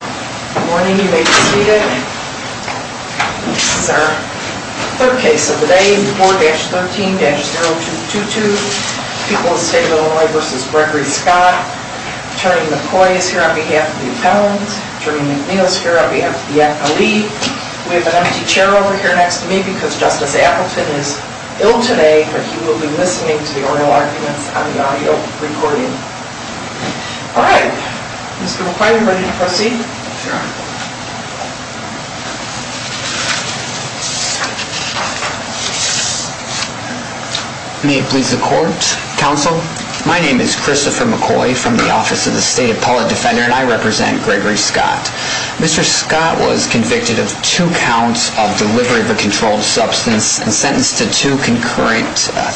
Good morning, you may be seated. This is our third case of the day, 4-13-0222. People of the State of Illinois v. Gregory Scott. Attorney McCoy is here on behalf of the appellants. Attorney McNeil is here on behalf of the appellee. We have an empty chair over here next to me because Justice Appleton is ill today, but he will be listening to the oral arguments on the audio recording. Alright, Mr. McCoy, are you ready to proceed? Sure. May it please the Court, Counsel. My name is Christopher McCoy from the office of the State Appellate Defender, and I represent Gregory Scott. Mr. Scott was convicted of two counts of delivery of a controlled substance and sentenced to two concurrent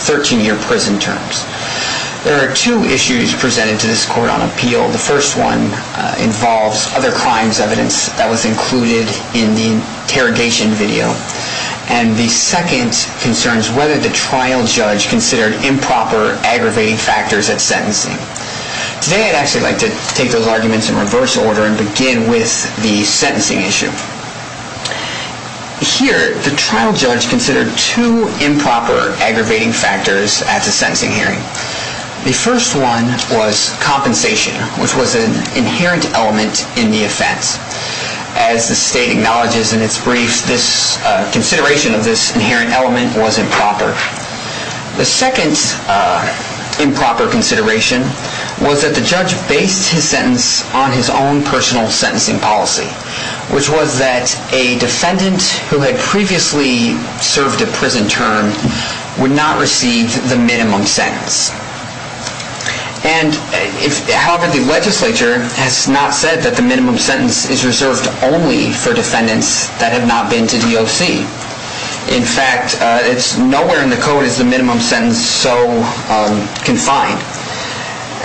13-year prison terms. There are two issues presented to this Court on appeal. The first one involves other crimes evidence that was included in the interrogation video, and the second concerns whether the trial judge considered improper, aggravating factors at sentencing. Today I'd actually like to take those arguments in reverse order and begin with the sentencing issue. Here, the trial judge considered two improper, aggravating factors at the sentencing hearing. The first one was compensation, which was an inherent element in the offense. As the State acknowledges in its briefs, this consideration of this inherent element was improper. The second improper consideration was that the judge based his sentence on his own personal sentencing policy, which was that a defendant who had previously served a prison term would not receive the minimum sentence. However, the legislature has not said that the minimum sentence is reserved only for defendants that have not been to DOC. In fact, nowhere in the code is the minimum sentence so confined.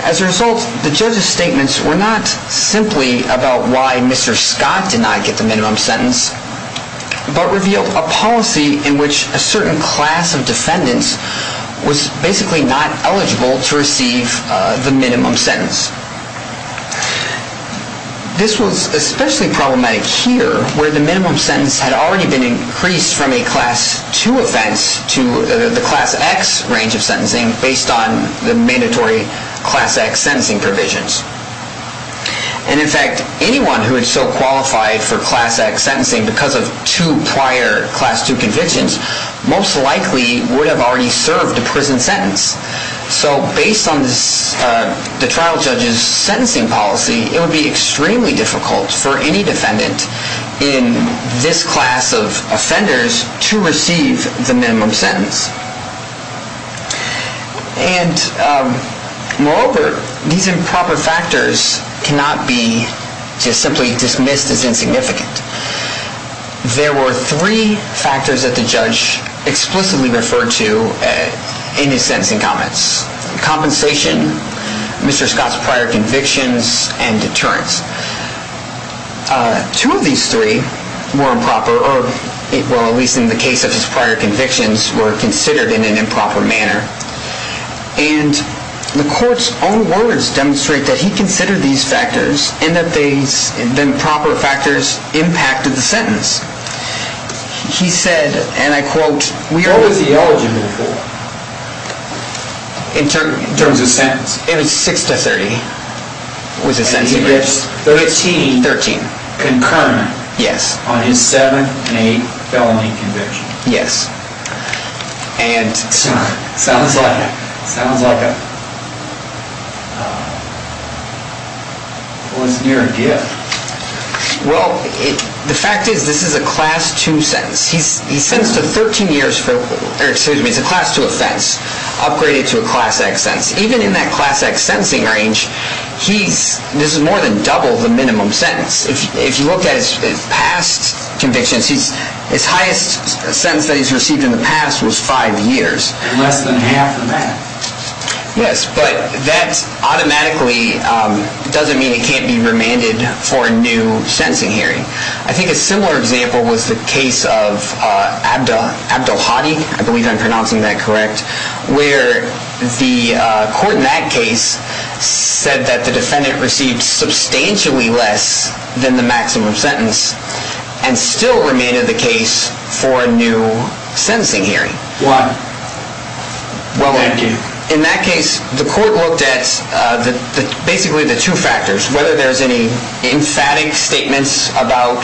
As a result, the judge's statements were not simply about why Mr. Scott did not get the minimum sentence, but revealed a policy in which a certain class of defendants was basically not eligible to receive the minimum sentence. This was especially problematic here, where the minimum sentence had already been increased from a Class II offense to the Class X range of sentencing based on the mandatory Class X sentencing provisions. And in fact, anyone who had so qualified for Class X sentencing because of two prior Class II convictions most likely would have already served a prison sentence. So based on the trial judge's sentencing policy, it would be extremely difficult for any defendant in this class of offenders to receive the minimum sentence. And moreover, these improper factors cannot be just simply dismissed as insignificant. There were three factors that the judge explicitly referred to in his sentencing comments. Compensation, Mr. Scott's prior convictions, and deterrence. Two of these three were improper, or at least in the case of his prior convictions, were considered in an improper manner. And the court's own words demonstrate that he considered these factors and that the improper factors impacted the sentence. He said, and I quote, What was he eligible for? In terms of sentence? It was 6 to 30 was his sentence. 13. 13. Concurrent. Yes. On his 7th and 8th felony convictions. Yes. And. Sounds like it. Sounds like it. Well, it's near and dear. Well, the fact is this is a Class II sentence. He's sentenced to 13 years for, or excuse me, it's a Class II offense. Upgraded to a Class X sentence. Even in that Class X sentencing range, this is more than double the minimum sentence. If you look at his past convictions, his highest sentence that he's received in the past was five years. Less than half of that. Yes, but that automatically doesn't mean it can't be remanded for a new sentencing hearing. I think a similar example was the case of Abdelhadi, I believe I'm pronouncing that correct, where the court in that case said that the defendant received substantially less than the maximum sentence and still remanded the case for a new sentencing hearing. Why? Well. Thank you. In that case, the court looked at basically the two factors, whether there's any emphatic statements about,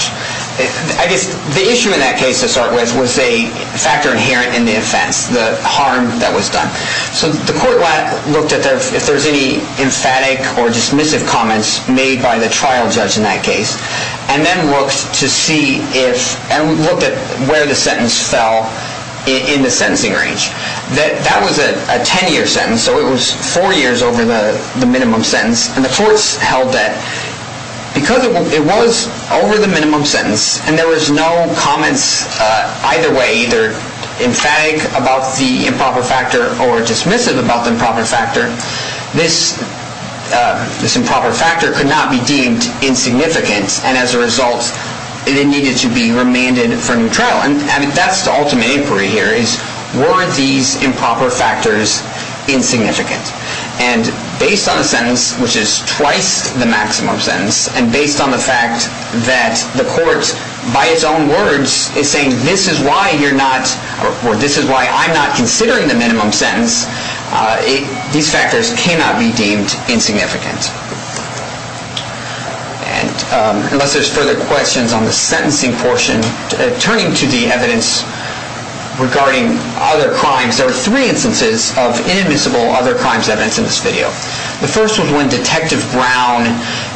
I guess the issue in that case to start with was a factor inherent in the offense, the harm that was done. So the court looked at if there's any emphatic or dismissive comments made by the trial judge in that case and then looked to see if, and looked at where the sentence fell in the sentencing range. That was a 10-year sentence, so it was four years over the minimum sentence. And the courts held that because it was over the minimum sentence and there was no comments either way, either emphatic about the improper factor or dismissive about the improper factor, this improper factor could not be deemed insignificant and as a result it needed to be remanded for a new trial. And that's the ultimate inquiry here is were these improper factors insignificant? And based on the sentence, which is twice the maximum sentence, and based on the fact that the court by its own words is saying this is why you're not, or this is why I'm not considering the minimum sentence, these factors cannot be deemed insignificant. And unless there's further questions on the sentencing portion, turning to the evidence regarding other crimes, there are three instances of inadmissible other crimes evidence in this video. The first was when Detective Brown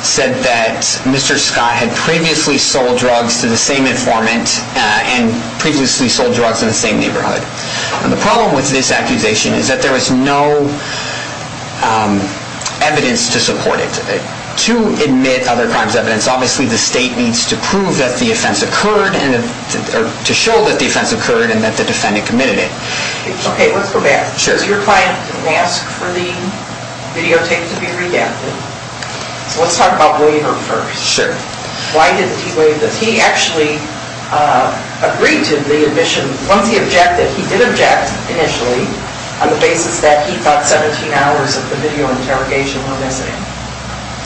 said that Mr. Scott had previously sold drugs to the same informant and previously sold drugs in the same neighborhood. And the problem with this accusation is that there was no evidence to support it. To admit other crimes evidence, obviously the state needs to prove that the offense occurred or to show that the offense occurred and that the defendant committed it. Okay, let's go back. Sure. Your client didn't ask for the videotape to be redacted. So let's talk about William first. Sure. Why didn't he waive this? Because he actually agreed to the admission. Once he objected, he did object initially on the basis that he thought 17 hours of the video interrogation were missing.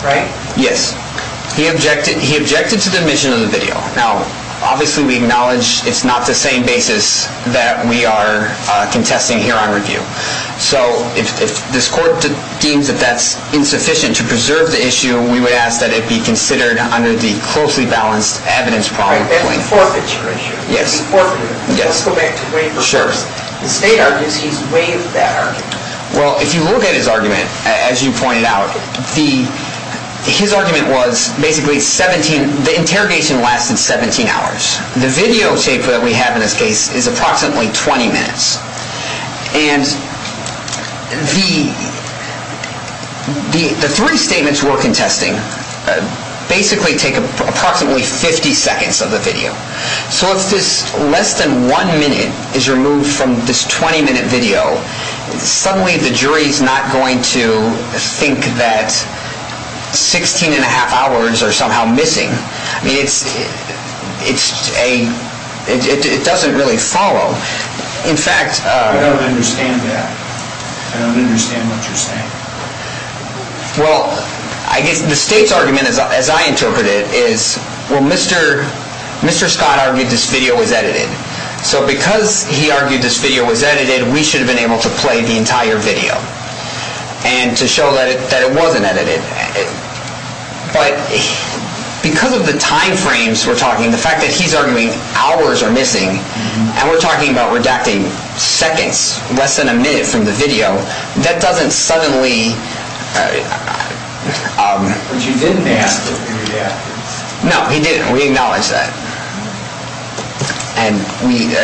Right? Yes. He objected to the admission of the video. Now, obviously we acknowledge it's not the same basis that we are contesting here on review. So if this court deems that that's insufficient to preserve the issue, we would ask that it be considered under the closely balanced evidence problem. Right, that forfeiture issue. Yes. The forfeiture. Yes. Let's go back to William first. Sure. The state argues he's waived that argument. Well, if you look at his argument, as you pointed out, his argument was basically 17, the interrogation lasted 17 hours. The videotape that we have in this case is approximately 20 minutes. And the three statements we're contesting basically take approximately 50 seconds of the video. So if this less than one minute is removed from this 20-minute video, suddenly the jury is not going to think that 16 and a half hours are somehow missing. I mean, it doesn't really follow. I don't understand that. I don't understand what you're saying. Well, I guess the state's argument, as I interpret it, is, well, Mr. Scott argued this video was edited. So because he argued this video was edited, we should have been able to play the entire video and to show that it wasn't edited. But because of the time frames we're talking, the fact that he's arguing hours are missing and we're talking about redacting seconds less than a minute from the video, that doesn't suddenly... But you didn't ask him to redact it. No, he didn't. We acknowledge that. And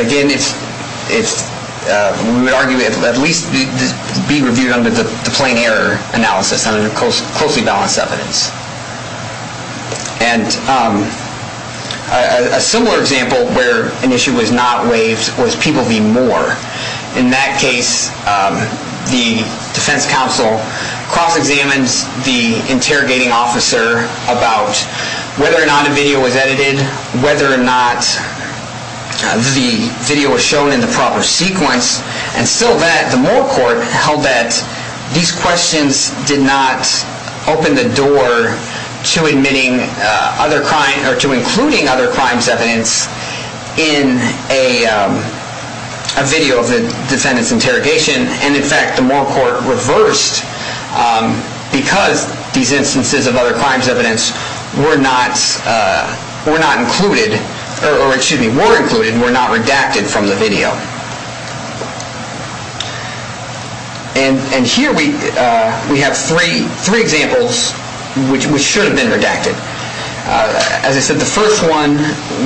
again, we would argue it at least be reviewed under the plain error analysis, under the closely balanced evidence. And a similar example where an issue was not waived was People v. Moore. In that case, the defense counsel cross-examines the interrogating officer about whether or not a video was edited, whether or not the video was shown in the proper sequence. And still that, the Moore court held that these questions did not open the door to including other crimes evidence in a video of the defendant's interrogation. And in fact, the Moore court reversed because these instances of other crimes evidence were not included, or excuse me, were included, were not redacted from the video. And here we have three examples which should have been redacted. As I said, the first one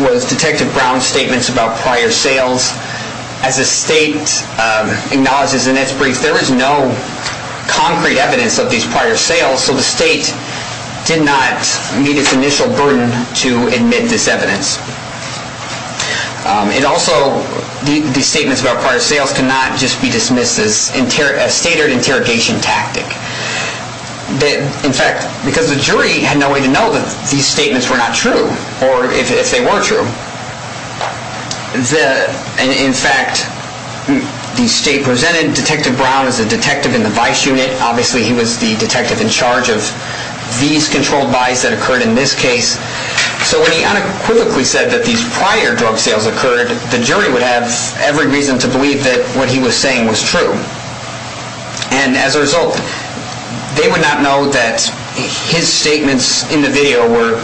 was Detective Brown's statements about prior sales. As the state acknowledges in its brief, there is no concrete evidence of these prior sales, so the state did not meet its initial burden to admit this evidence. And also, these statements about prior sales cannot just be dismissed as a standard interrogation tactic. In fact, because the jury had no way to know that these statements were not true, or if they were true. And in fact, the state presented Detective Brown as a detective in the vice unit. Obviously, he was the detective in charge of these controlled buys that occurred in this case. So when he unequivocally said that these prior drug sales occurred, the jury would have every reason to believe that what he was saying was true. And as a result, they would not know that his statements in the video were,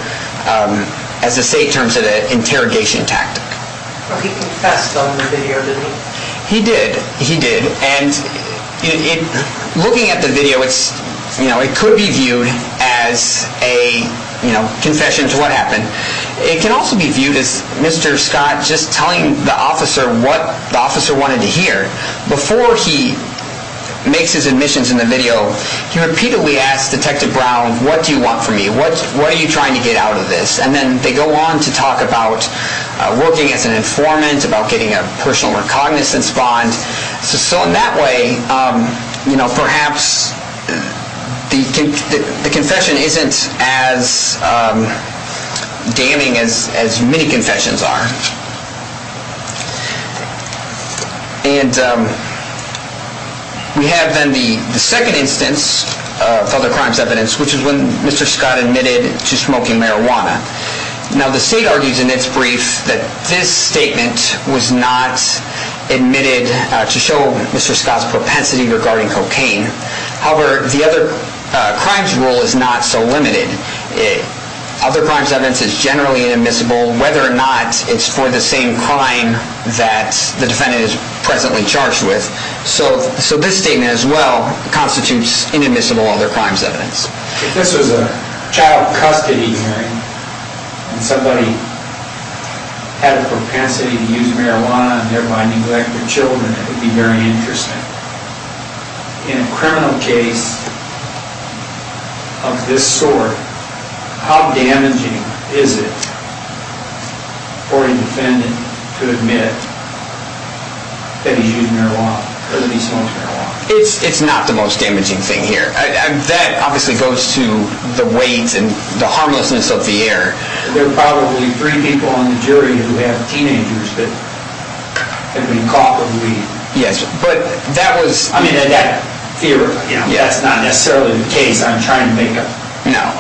as the state terms it, an interrogation tactic. He confessed on the video, didn't he? He did. He did. And looking at the video, it could be viewed as a confession to what happened. It can also be viewed as Mr. Scott just telling the officer what the officer wanted to hear. Before he makes his admissions in the video, he repeatedly asks Detective Brown, what do you want from me? What are you trying to get out of this? And then they go on to talk about working as an informant, about getting a personal recognizance bond. So in that way, perhaps the confession isn't as damning as many confessions are. And we have then the second instance of other crimes evidence, which is when Mr. Scott admitted to smoking marijuana. Now, the state argues in its brief that this statement was not admitted to show Mr. Scott's propensity regarding cocaine. However, the other crimes rule is not so limited. Other crimes evidence is generally inadmissible, whether or not it's for the same crime that the defendant is presently charged with. So this statement as well constitutes inadmissible other crimes evidence. If this was a child custody hearing and somebody had a propensity to use marijuana and thereby neglect their children, it would be very interesting. In a criminal case of this sort, how damaging is it for a defendant to admit that he's used marijuana, that he smokes marijuana? It's not the most damaging thing here. That obviously goes to the weight and the harmlessness of the error. There are probably three people on the jury who have teenagers that have been caught with weed. Yes, but that was... I mean, in that theory, that's not necessarily the case. I'm trying to make a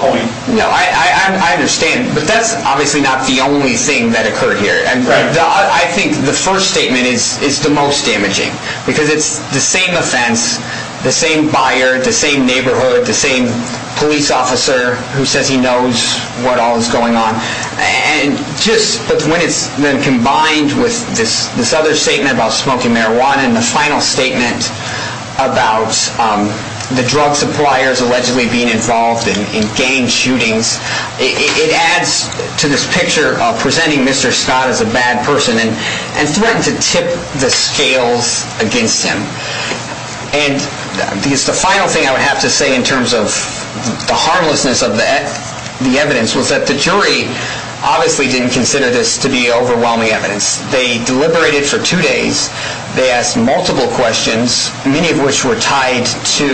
point. No, I understand. But that's obviously not the only thing that occurred here. I think the first statement is the most damaging, because it's the same offense, the same buyer, the same neighborhood, the same police officer who says he knows what all is going on. And just when it's then combined with this other statement about smoking marijuana and the final statement about the drug suppliers allegedly being involved in gang shootings, it adds to this picture of presenting Mr. Scott as a bad person and threatened to tip the scales against him. And the final thing I would have to say in terms of the harmlessness of the evidence was that the jury obviously didn't consider this to be overwhelming evidence. They deliberated for two days. They asked multiple questions, many of which were tied to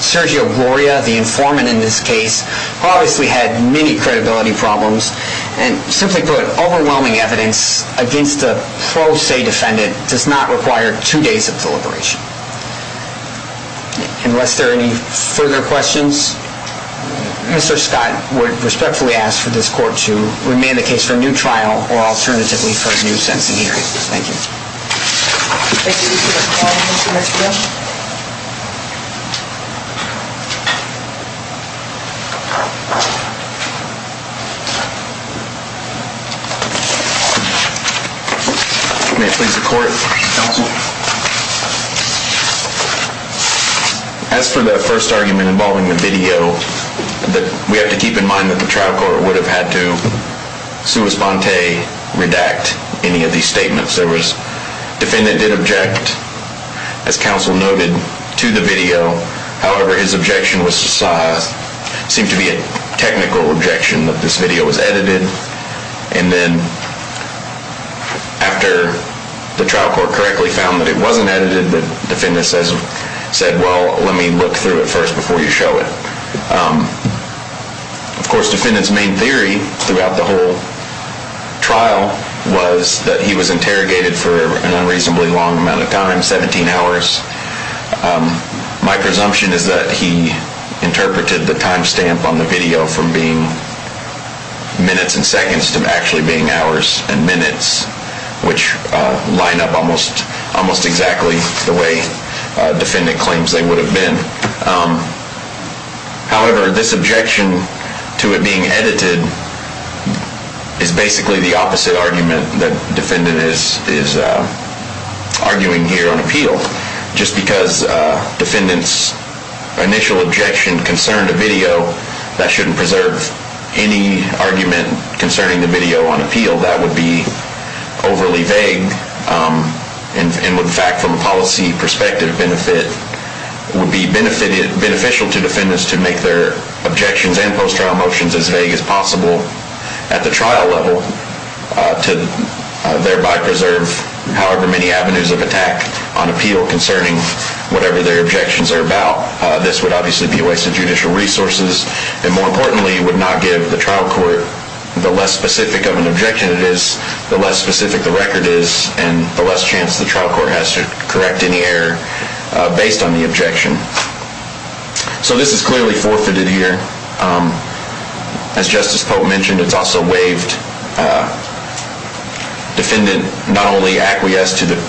Sergio Gloria, the informant in this case, who obviously had many credibility problems. And simply put, overwhelming evidence against a pro se defendant does not require two days of deliberation. Unless there are any further questions, Mr. Scott, we respectfully ask for this court to remand the case for a new trial or alternatively for a new sentencing hearing. Thank you. Thank you, Mr. McClellan. May it please the court. As for that first argument involving the video, we have to keep in mind that the trial court would have had to sua sponte redact any of these statements. Defendant did object, as counsel noted, to the video. However, his objection seemed to be a technical objection that this video was edited. And then after the trial court correctly found that it wasn't edited, the defendant said, well, let me look through it first before you show it. Of course, defendant's main theory throughout the whole trial was that he was interrogated for an unreasonably long amount of time, 17 hours. My presumption is that he interpreted the time stamp on the video from being minutes and seconds to actually being hours and minutes, which line up almost exactly the way defendant claims they would have been. However, this objection to it being edited is basically the opposite argument that defendant is arguing here on appeal. Just because defendant's initial objection concerned a video, that shouldn't preserve any argument concerning the video on appeal. That would be overly vague. And in fact, from a policy perspective, it would be beneficial to defendants to make their objections and post-trial motions as vague as possible at the trial level to thereby preserve however many avenues of attack on appeal concerning whatever their objections are about. This would obviously be a waste of judicial resources, and more importantly, would not give the trial court the less specific of an objection it is, the less specific the record is, and the less chance the trial court has to correct any error based on the objection. So this is clearly forfeited here. As Justice Pope mentioned, it's also waived. Defendant not only acquiesced to the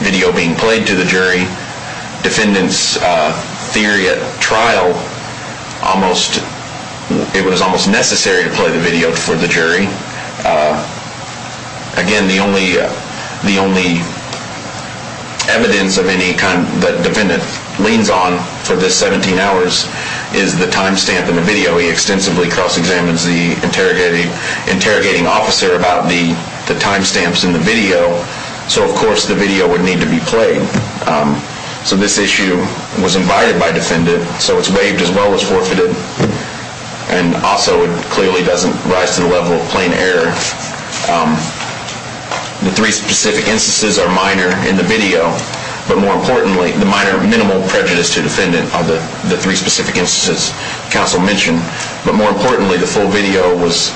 video being played to the jury, defendant's theory at trial, it was almost necessary to play the video for the jury. Again, the only evidence that defendant leans on for the 17 hours is the time stamp in the video. He extensively cross-examines the interrogating officer about the time stamps in the video. So, of course, the video would need to be played. So this issue was invited by defendant, so it's waived as well as forfeited, and also it clearly doesn't rise to the level of plain error. The three specific instances are minor in the video, but more importantly, the minor minimal prejudice to defendant are the three specific instances counsel mentioned, but more importantly, the full video was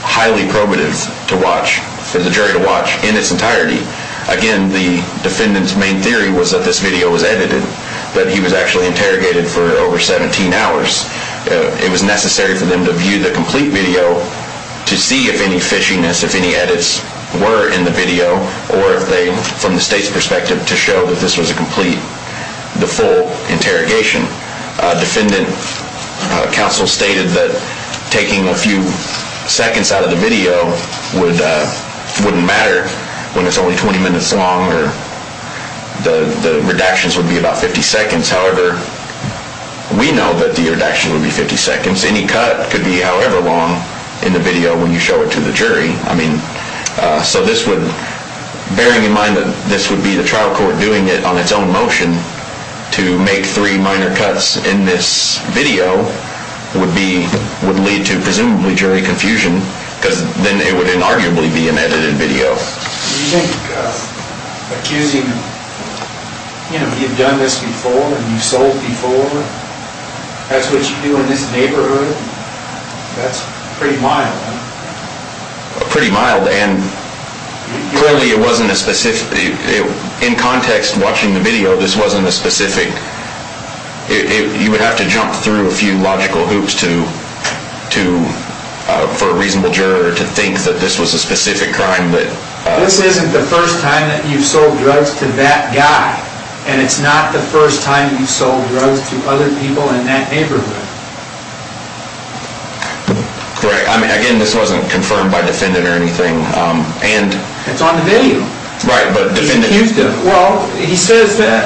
highly probative to watch, for the jury to watch in its entirety. Again, the defendant's main theory was that this video was edited, that he was actually interrogated for over 17 hours. It was necessary for them to view the complete video to see if any fishiness, if any edits were in the video, or if they, from the state's perspective, to show that this was a complete, the full interrogation. Defendant counsel stated that taking a few seconds out of the video wouldn't matter when it's only 20 minutes long, or the redactions would be about 50 seconds. However, we know that the redaction would be 50 seconds. Any cut could be however long in the video when you show it to the jury. I mean, so this would, bearing in mind that this would be the trial court doing it on its own motion to make three minor cuts in this video would be, would lead to presumably jury confusion, because then it would inarguably be an edited video. Do you think accusing, you know, you've done this before and you've sold before, that's what you do in this neighborhood, that's pretty mild. Pretty mild, and clearly it wasn't a specific, in context, watching the video, this wasn't a specific, you would have to jump through a few logical hoops to, for a reasonable juror to think that this was a specific crime. This isn't the first time that you've sold drugs to that guy, and it's not the first time you've sold drugs to other people in that neighborhood. Correct. I mean, again, this wasn't confirmed by defendant or anything. It's on the video. Well, he says that,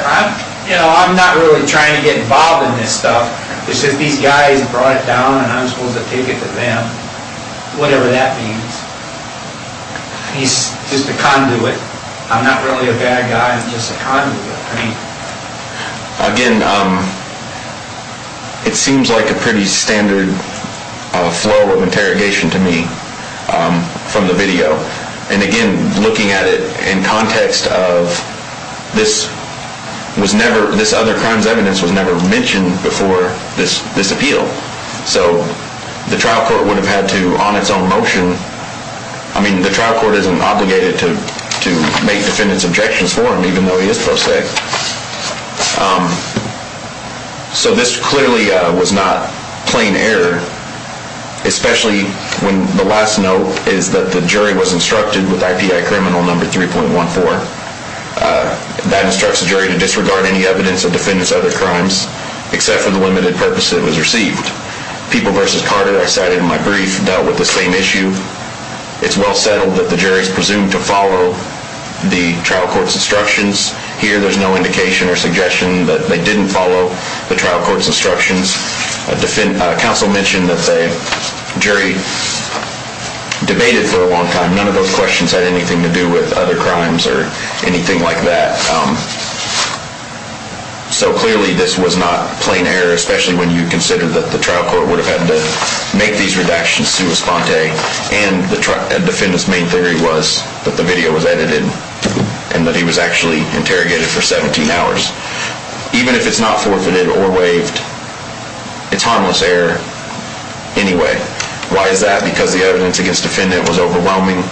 you know, I'm not really trying to get involved in this stuff. He says these guys brought it down and I'm supposed to take it to them, whatever that means. He's just a conduit. I'm not really a bad guy, I'm just a conduit. Again, it seems like a pretty standard flow of interrogation to me from the video. And again, looking at it in context of this was never, this other crime's evidence was never mentioned before this appeal. So the trial court would have had to, on its own motion, I mean, the trial court isn't obligated to make defendant's objections for him, even though he is pro se. So this clearly was not plain error, especially when the last note is that the jury was instructed with IPI criminal number 3.14. That instructs the jury to disregard any evidence of defendant's other crimes, except for the limited purpose it was received. People v. Carter, I cited in my brief, dealt with the same issue. It's well settled that the jury is presumed to follow the trial court's instructions. Here there's no indication or suggestion that they didn't follow the trial court's instructions. Counsel mentioned that the jury debated for a long time. None of those questions had anything to do with other crimes or anything like that. So clearly this was not plain error, especially when you consider that the trial court would have had to make these redactions sui sponte. And the defendant's main theory was that the video was edited and that he was actually interrogated for 17 hours. Even if it's not forfeited or waived, it's harmless error anyway. Why is that? Because the evidence against the defendant was overwhelming.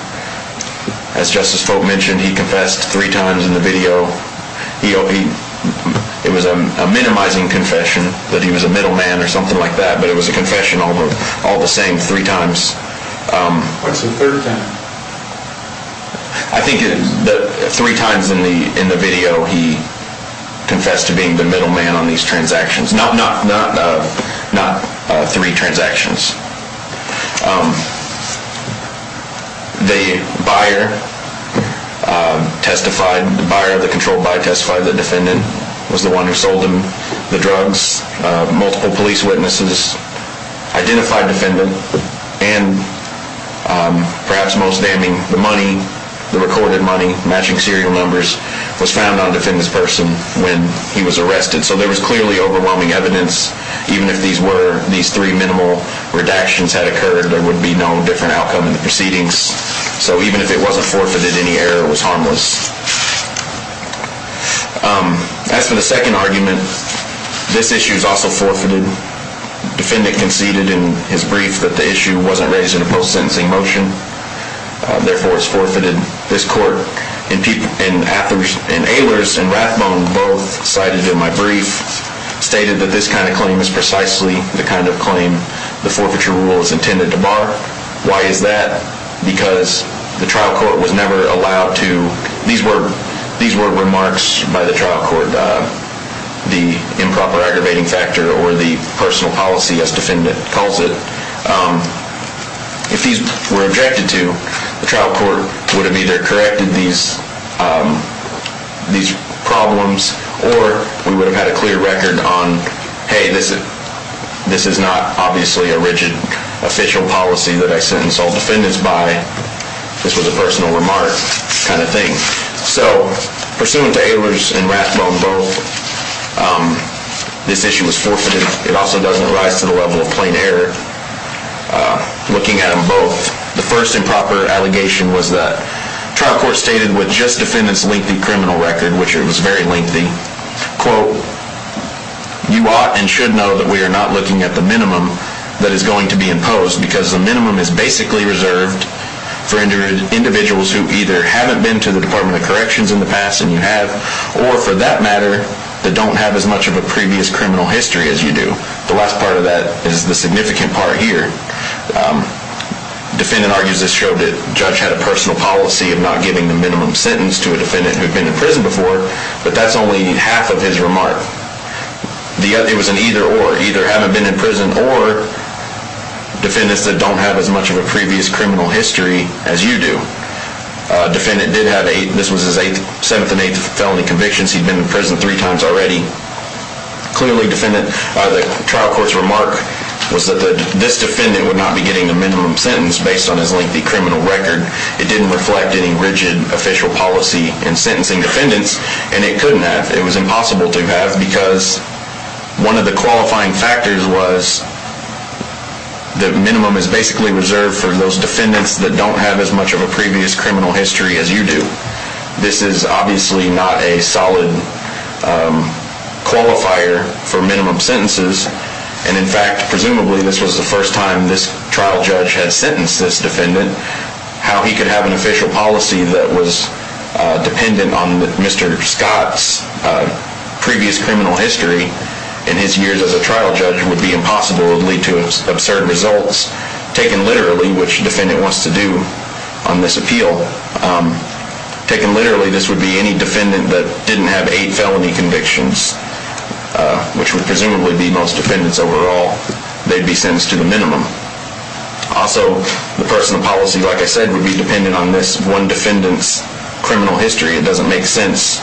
As Justice Folk mentioned, he confessed three times in the video. It was a minimizing confession that he was a middle man or something like that, but it was a confession all the same three times. What's the third time? I think three times in the video he confessed to being the middle man on these transactions. Not three transactions. The buyer, the controlled buyer, testified that the defendant was the one who sold him the drugs. Multiple police witnesses identified the defendant, and perhaps most damning, the money, the recorded money, matching serial numbers, was found on the defendant's person when he was arrested. So there was clearly overwhelming evidence. Even if these three minimal redactions had occurred, there would be no different outcome in the proceedings. So even if it wasn't forfeited, any error was harmless. As for the second argument, this issue is also forfeited. The defendant conceded in his brief that the issue wasn't raised in a post-sentencing motion, therefore it's forfeited. This court, and Aylors and Rathbone both cited in my brief, stated that this kind of claim is precisely the kind of claim the forfeiture rule is intended to bar. Why is that? Because the trial court was never allowed to, these were remarks by the trial court, the improper aggravating factor or the personal policy as defendant calls it. If these were objected to, the trial court would have either corrected these problems, or we would have had a clear record on, hey, this is not obviously a rigid official policy that I sentence all defendants by. This was a personal remark kind of thing. So pursuant to Aylors and Rathbone both, this issue was forfeited. It also doesn't rise to the level of plain error. Looking at them both, the first improper allegation was that trial court stated with just defendant's lengthy criminal record, which it was very lengthy, quote, you ought and should know that we are not looking at the minimum that is going to be imposed because the minimum is basically reserved for individuals who either haven't been to the Department of Corrections in the past, and you have, or for that matter, that don't have as much of a previous criminal history as you do. The last part of that is the significant part here. Defendant argues this showed that judge had a personal policy of not giving the minimum sentence to a defendant who had been in prison before, but that's only half of his remark. It was an either or. Either haven't been in prison, or defendants that don't have as much of a previous criminal history as you do. Defendant did have eight. This was his seventh and eighth felony convictions. He'd been in prison three times already. Clearly, defendant, the trial court's remark was that this defendant would not be getting the minimum sentence based on his lengthy criminal record. It didn't reflect any rigid official policy in sentencing defendants, and it couldn't have. It was impossible to have because one of the qualifying factors was the minimum is basically reserved for those defendants that don't have as much of a previous criminal history as you do. This is obviously not a solid qualifier for minimum sentences, and in fact, presumably, this was the first time this trial judge had sentenced this defendant. How he could have an official policy that was dependent on Mr. Scott's previous criminal history in his years as a trial judge would be impossible. It would lead to absurd results. Taken literally, which defendant wants to do on this appeal, taken literally, this would be any defendant that didn't have eight felony convictions, which would presumably be most defendants overall. They'd be sentenced to the minimum. Also, the personal policy, like I said, would be dependent on this one defendant's criminal history. It doesn't make sense.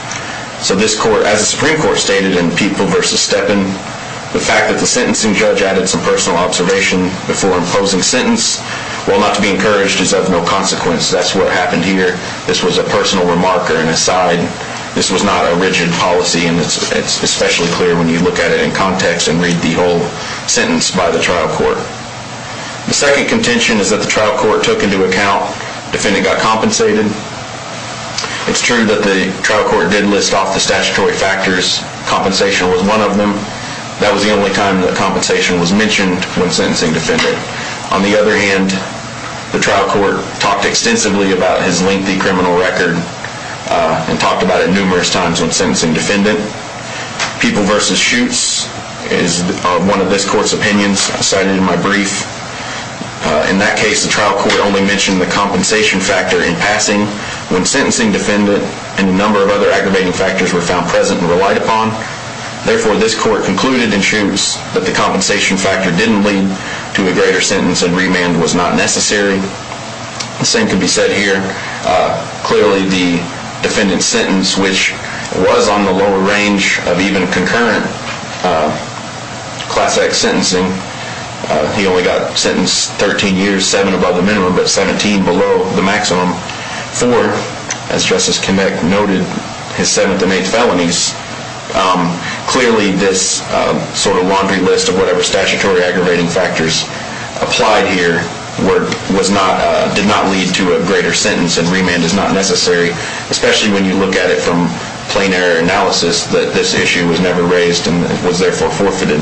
As the Supreme Court stated in People v. Steppen, the fact that the sentencing judge added some personal observation before imposing sentence, well, not to be encouraged, is of no consequence. That's what happened here. This was a personal remark or an aside. This was not a rigid policy, and it's especially clear when you look at it in context and read the whole sentence by the trial court. The second contention is that the trial court took into account defendant got compensated. It's true that the trial court did list off the statutory factors. Compensation was one of them. That was the only time that compensation was mentioned when sentencing defendant. On the other hand, the trial court talked extensively about his lengthy criminal record and talked about it numerous times when sentencing defendant. People v. Schutz is one of this court's opinions. I cited it in my brief. In that case, the trial court only mentioned the compensation factor in passing when sentencing defendant and a number of other aggravating factors were found present and relied upon. Therefore, this court concluded in Schutz that the compensation factor didn't lead to a greater sentence and remand was not necessary. The same could be said here. Clearly, the defendant's sentence, which was on the lower range of even concurrent Class X sentencing, he only got sentenced 13 years, 7 above the minimum, but 17 below the maximum for, as Justice Kinnick noted, his seventh and eighth felonies. Clearly, this laundry list of whatever statutory aggravating factors applied here did not lead to a greater sentence and remand is not necessary, especially when you look at it from plain error analysis that this issue was never raised and was therefore forfeited.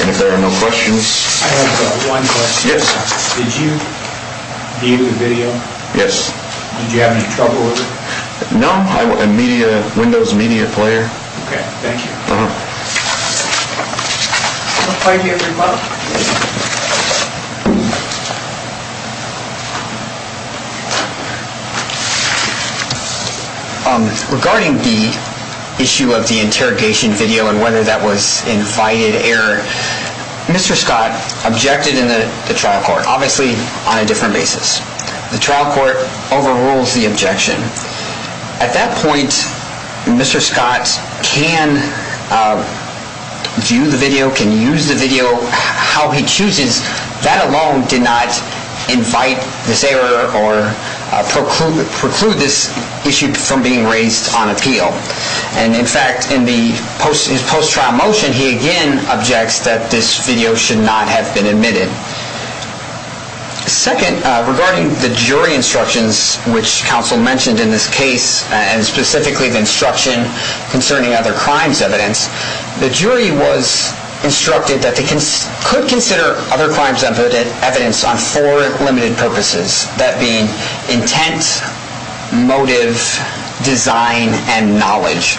And if there are no questions... I have one question. Yes. Did you view the video? Yes. Did you have any trouble with it? No. I'm a Windows Media player. Okay. Thank you. Uh-huh. I'll play it to you every month. Okay. Regarding the issue of the interrogation video and whether that was invited error, Mr. Scott objected in the trial court, obviously on a different basis. The trial court overrules the objection. At that point, Mr. Scott can view the video, can use the video how he chooses. That alone did not invite this error or preclude this issue from being raised on appeal. And in fact, in his post-trial motion, he again objects that this video should not have been admitted. Second, regarding the jury instructions, which counsel mentioned in this case, and specifically the instruction concerning other crimes evidence, the jury was instructed that they could consider other crimes evidence on four limited purposes, that being intent, motive, design, and knowledge.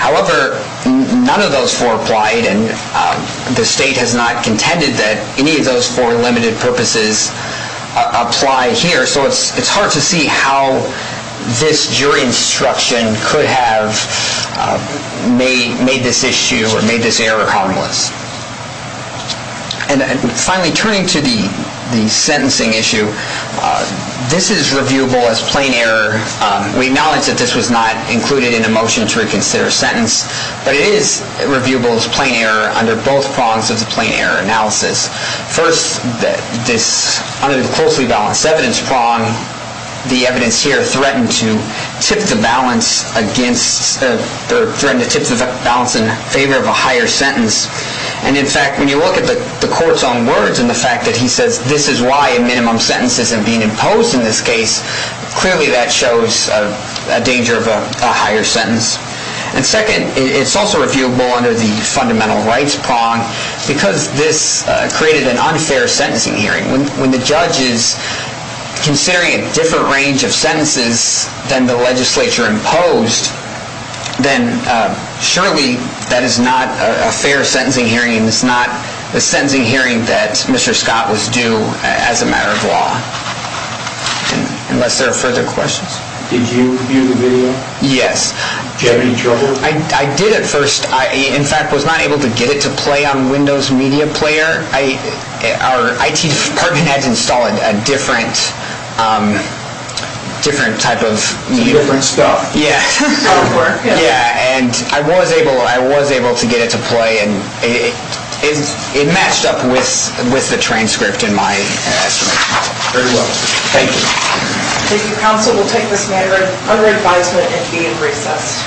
However, none of those four applied, and the state has not contended that any of those four limited purposes apply here. So it's hard to see how this jury instruction could have made this issue or made this error harmless. And finally, turning to the sentencing issue, this is reviewable as plain error. We acknowledge that this was not included in the motion to reconsider a sentence, but it is reviewable as plain error under both prongs of the plain error analysis. First, under the closely balanced evidence prong, the evidence here threatened to tip the balance in favor of a higher sentence. And in fact, when you look at the court's own words and the fact that he says this is why a minimum sentence isn't being imposed in this case, clearly that shows a danger of a higher sentence. And second, it's also reviewable under the fundamental rights prong because this created an unfair sentencing hearing. When the judge is considering a different range of sentences than the legislature imposed, then surely that is not a fair sentencing hearing and it's not a sentencing hearing that Mr. Scott was due as a matter of law, unless there are further questions. Did you view the video? Yes. Did you have any trouble? I did at first. I, in fact, was not able to get it to play on Windows Media Player. Our IT department had to install a different type of media. It's a different stuff. Yeah. And I was able to get it to play and it matched up with the transcript in my estimate. Very well. Thank you. Thank you, counsel. We'll take this matter under advisement and be in recess.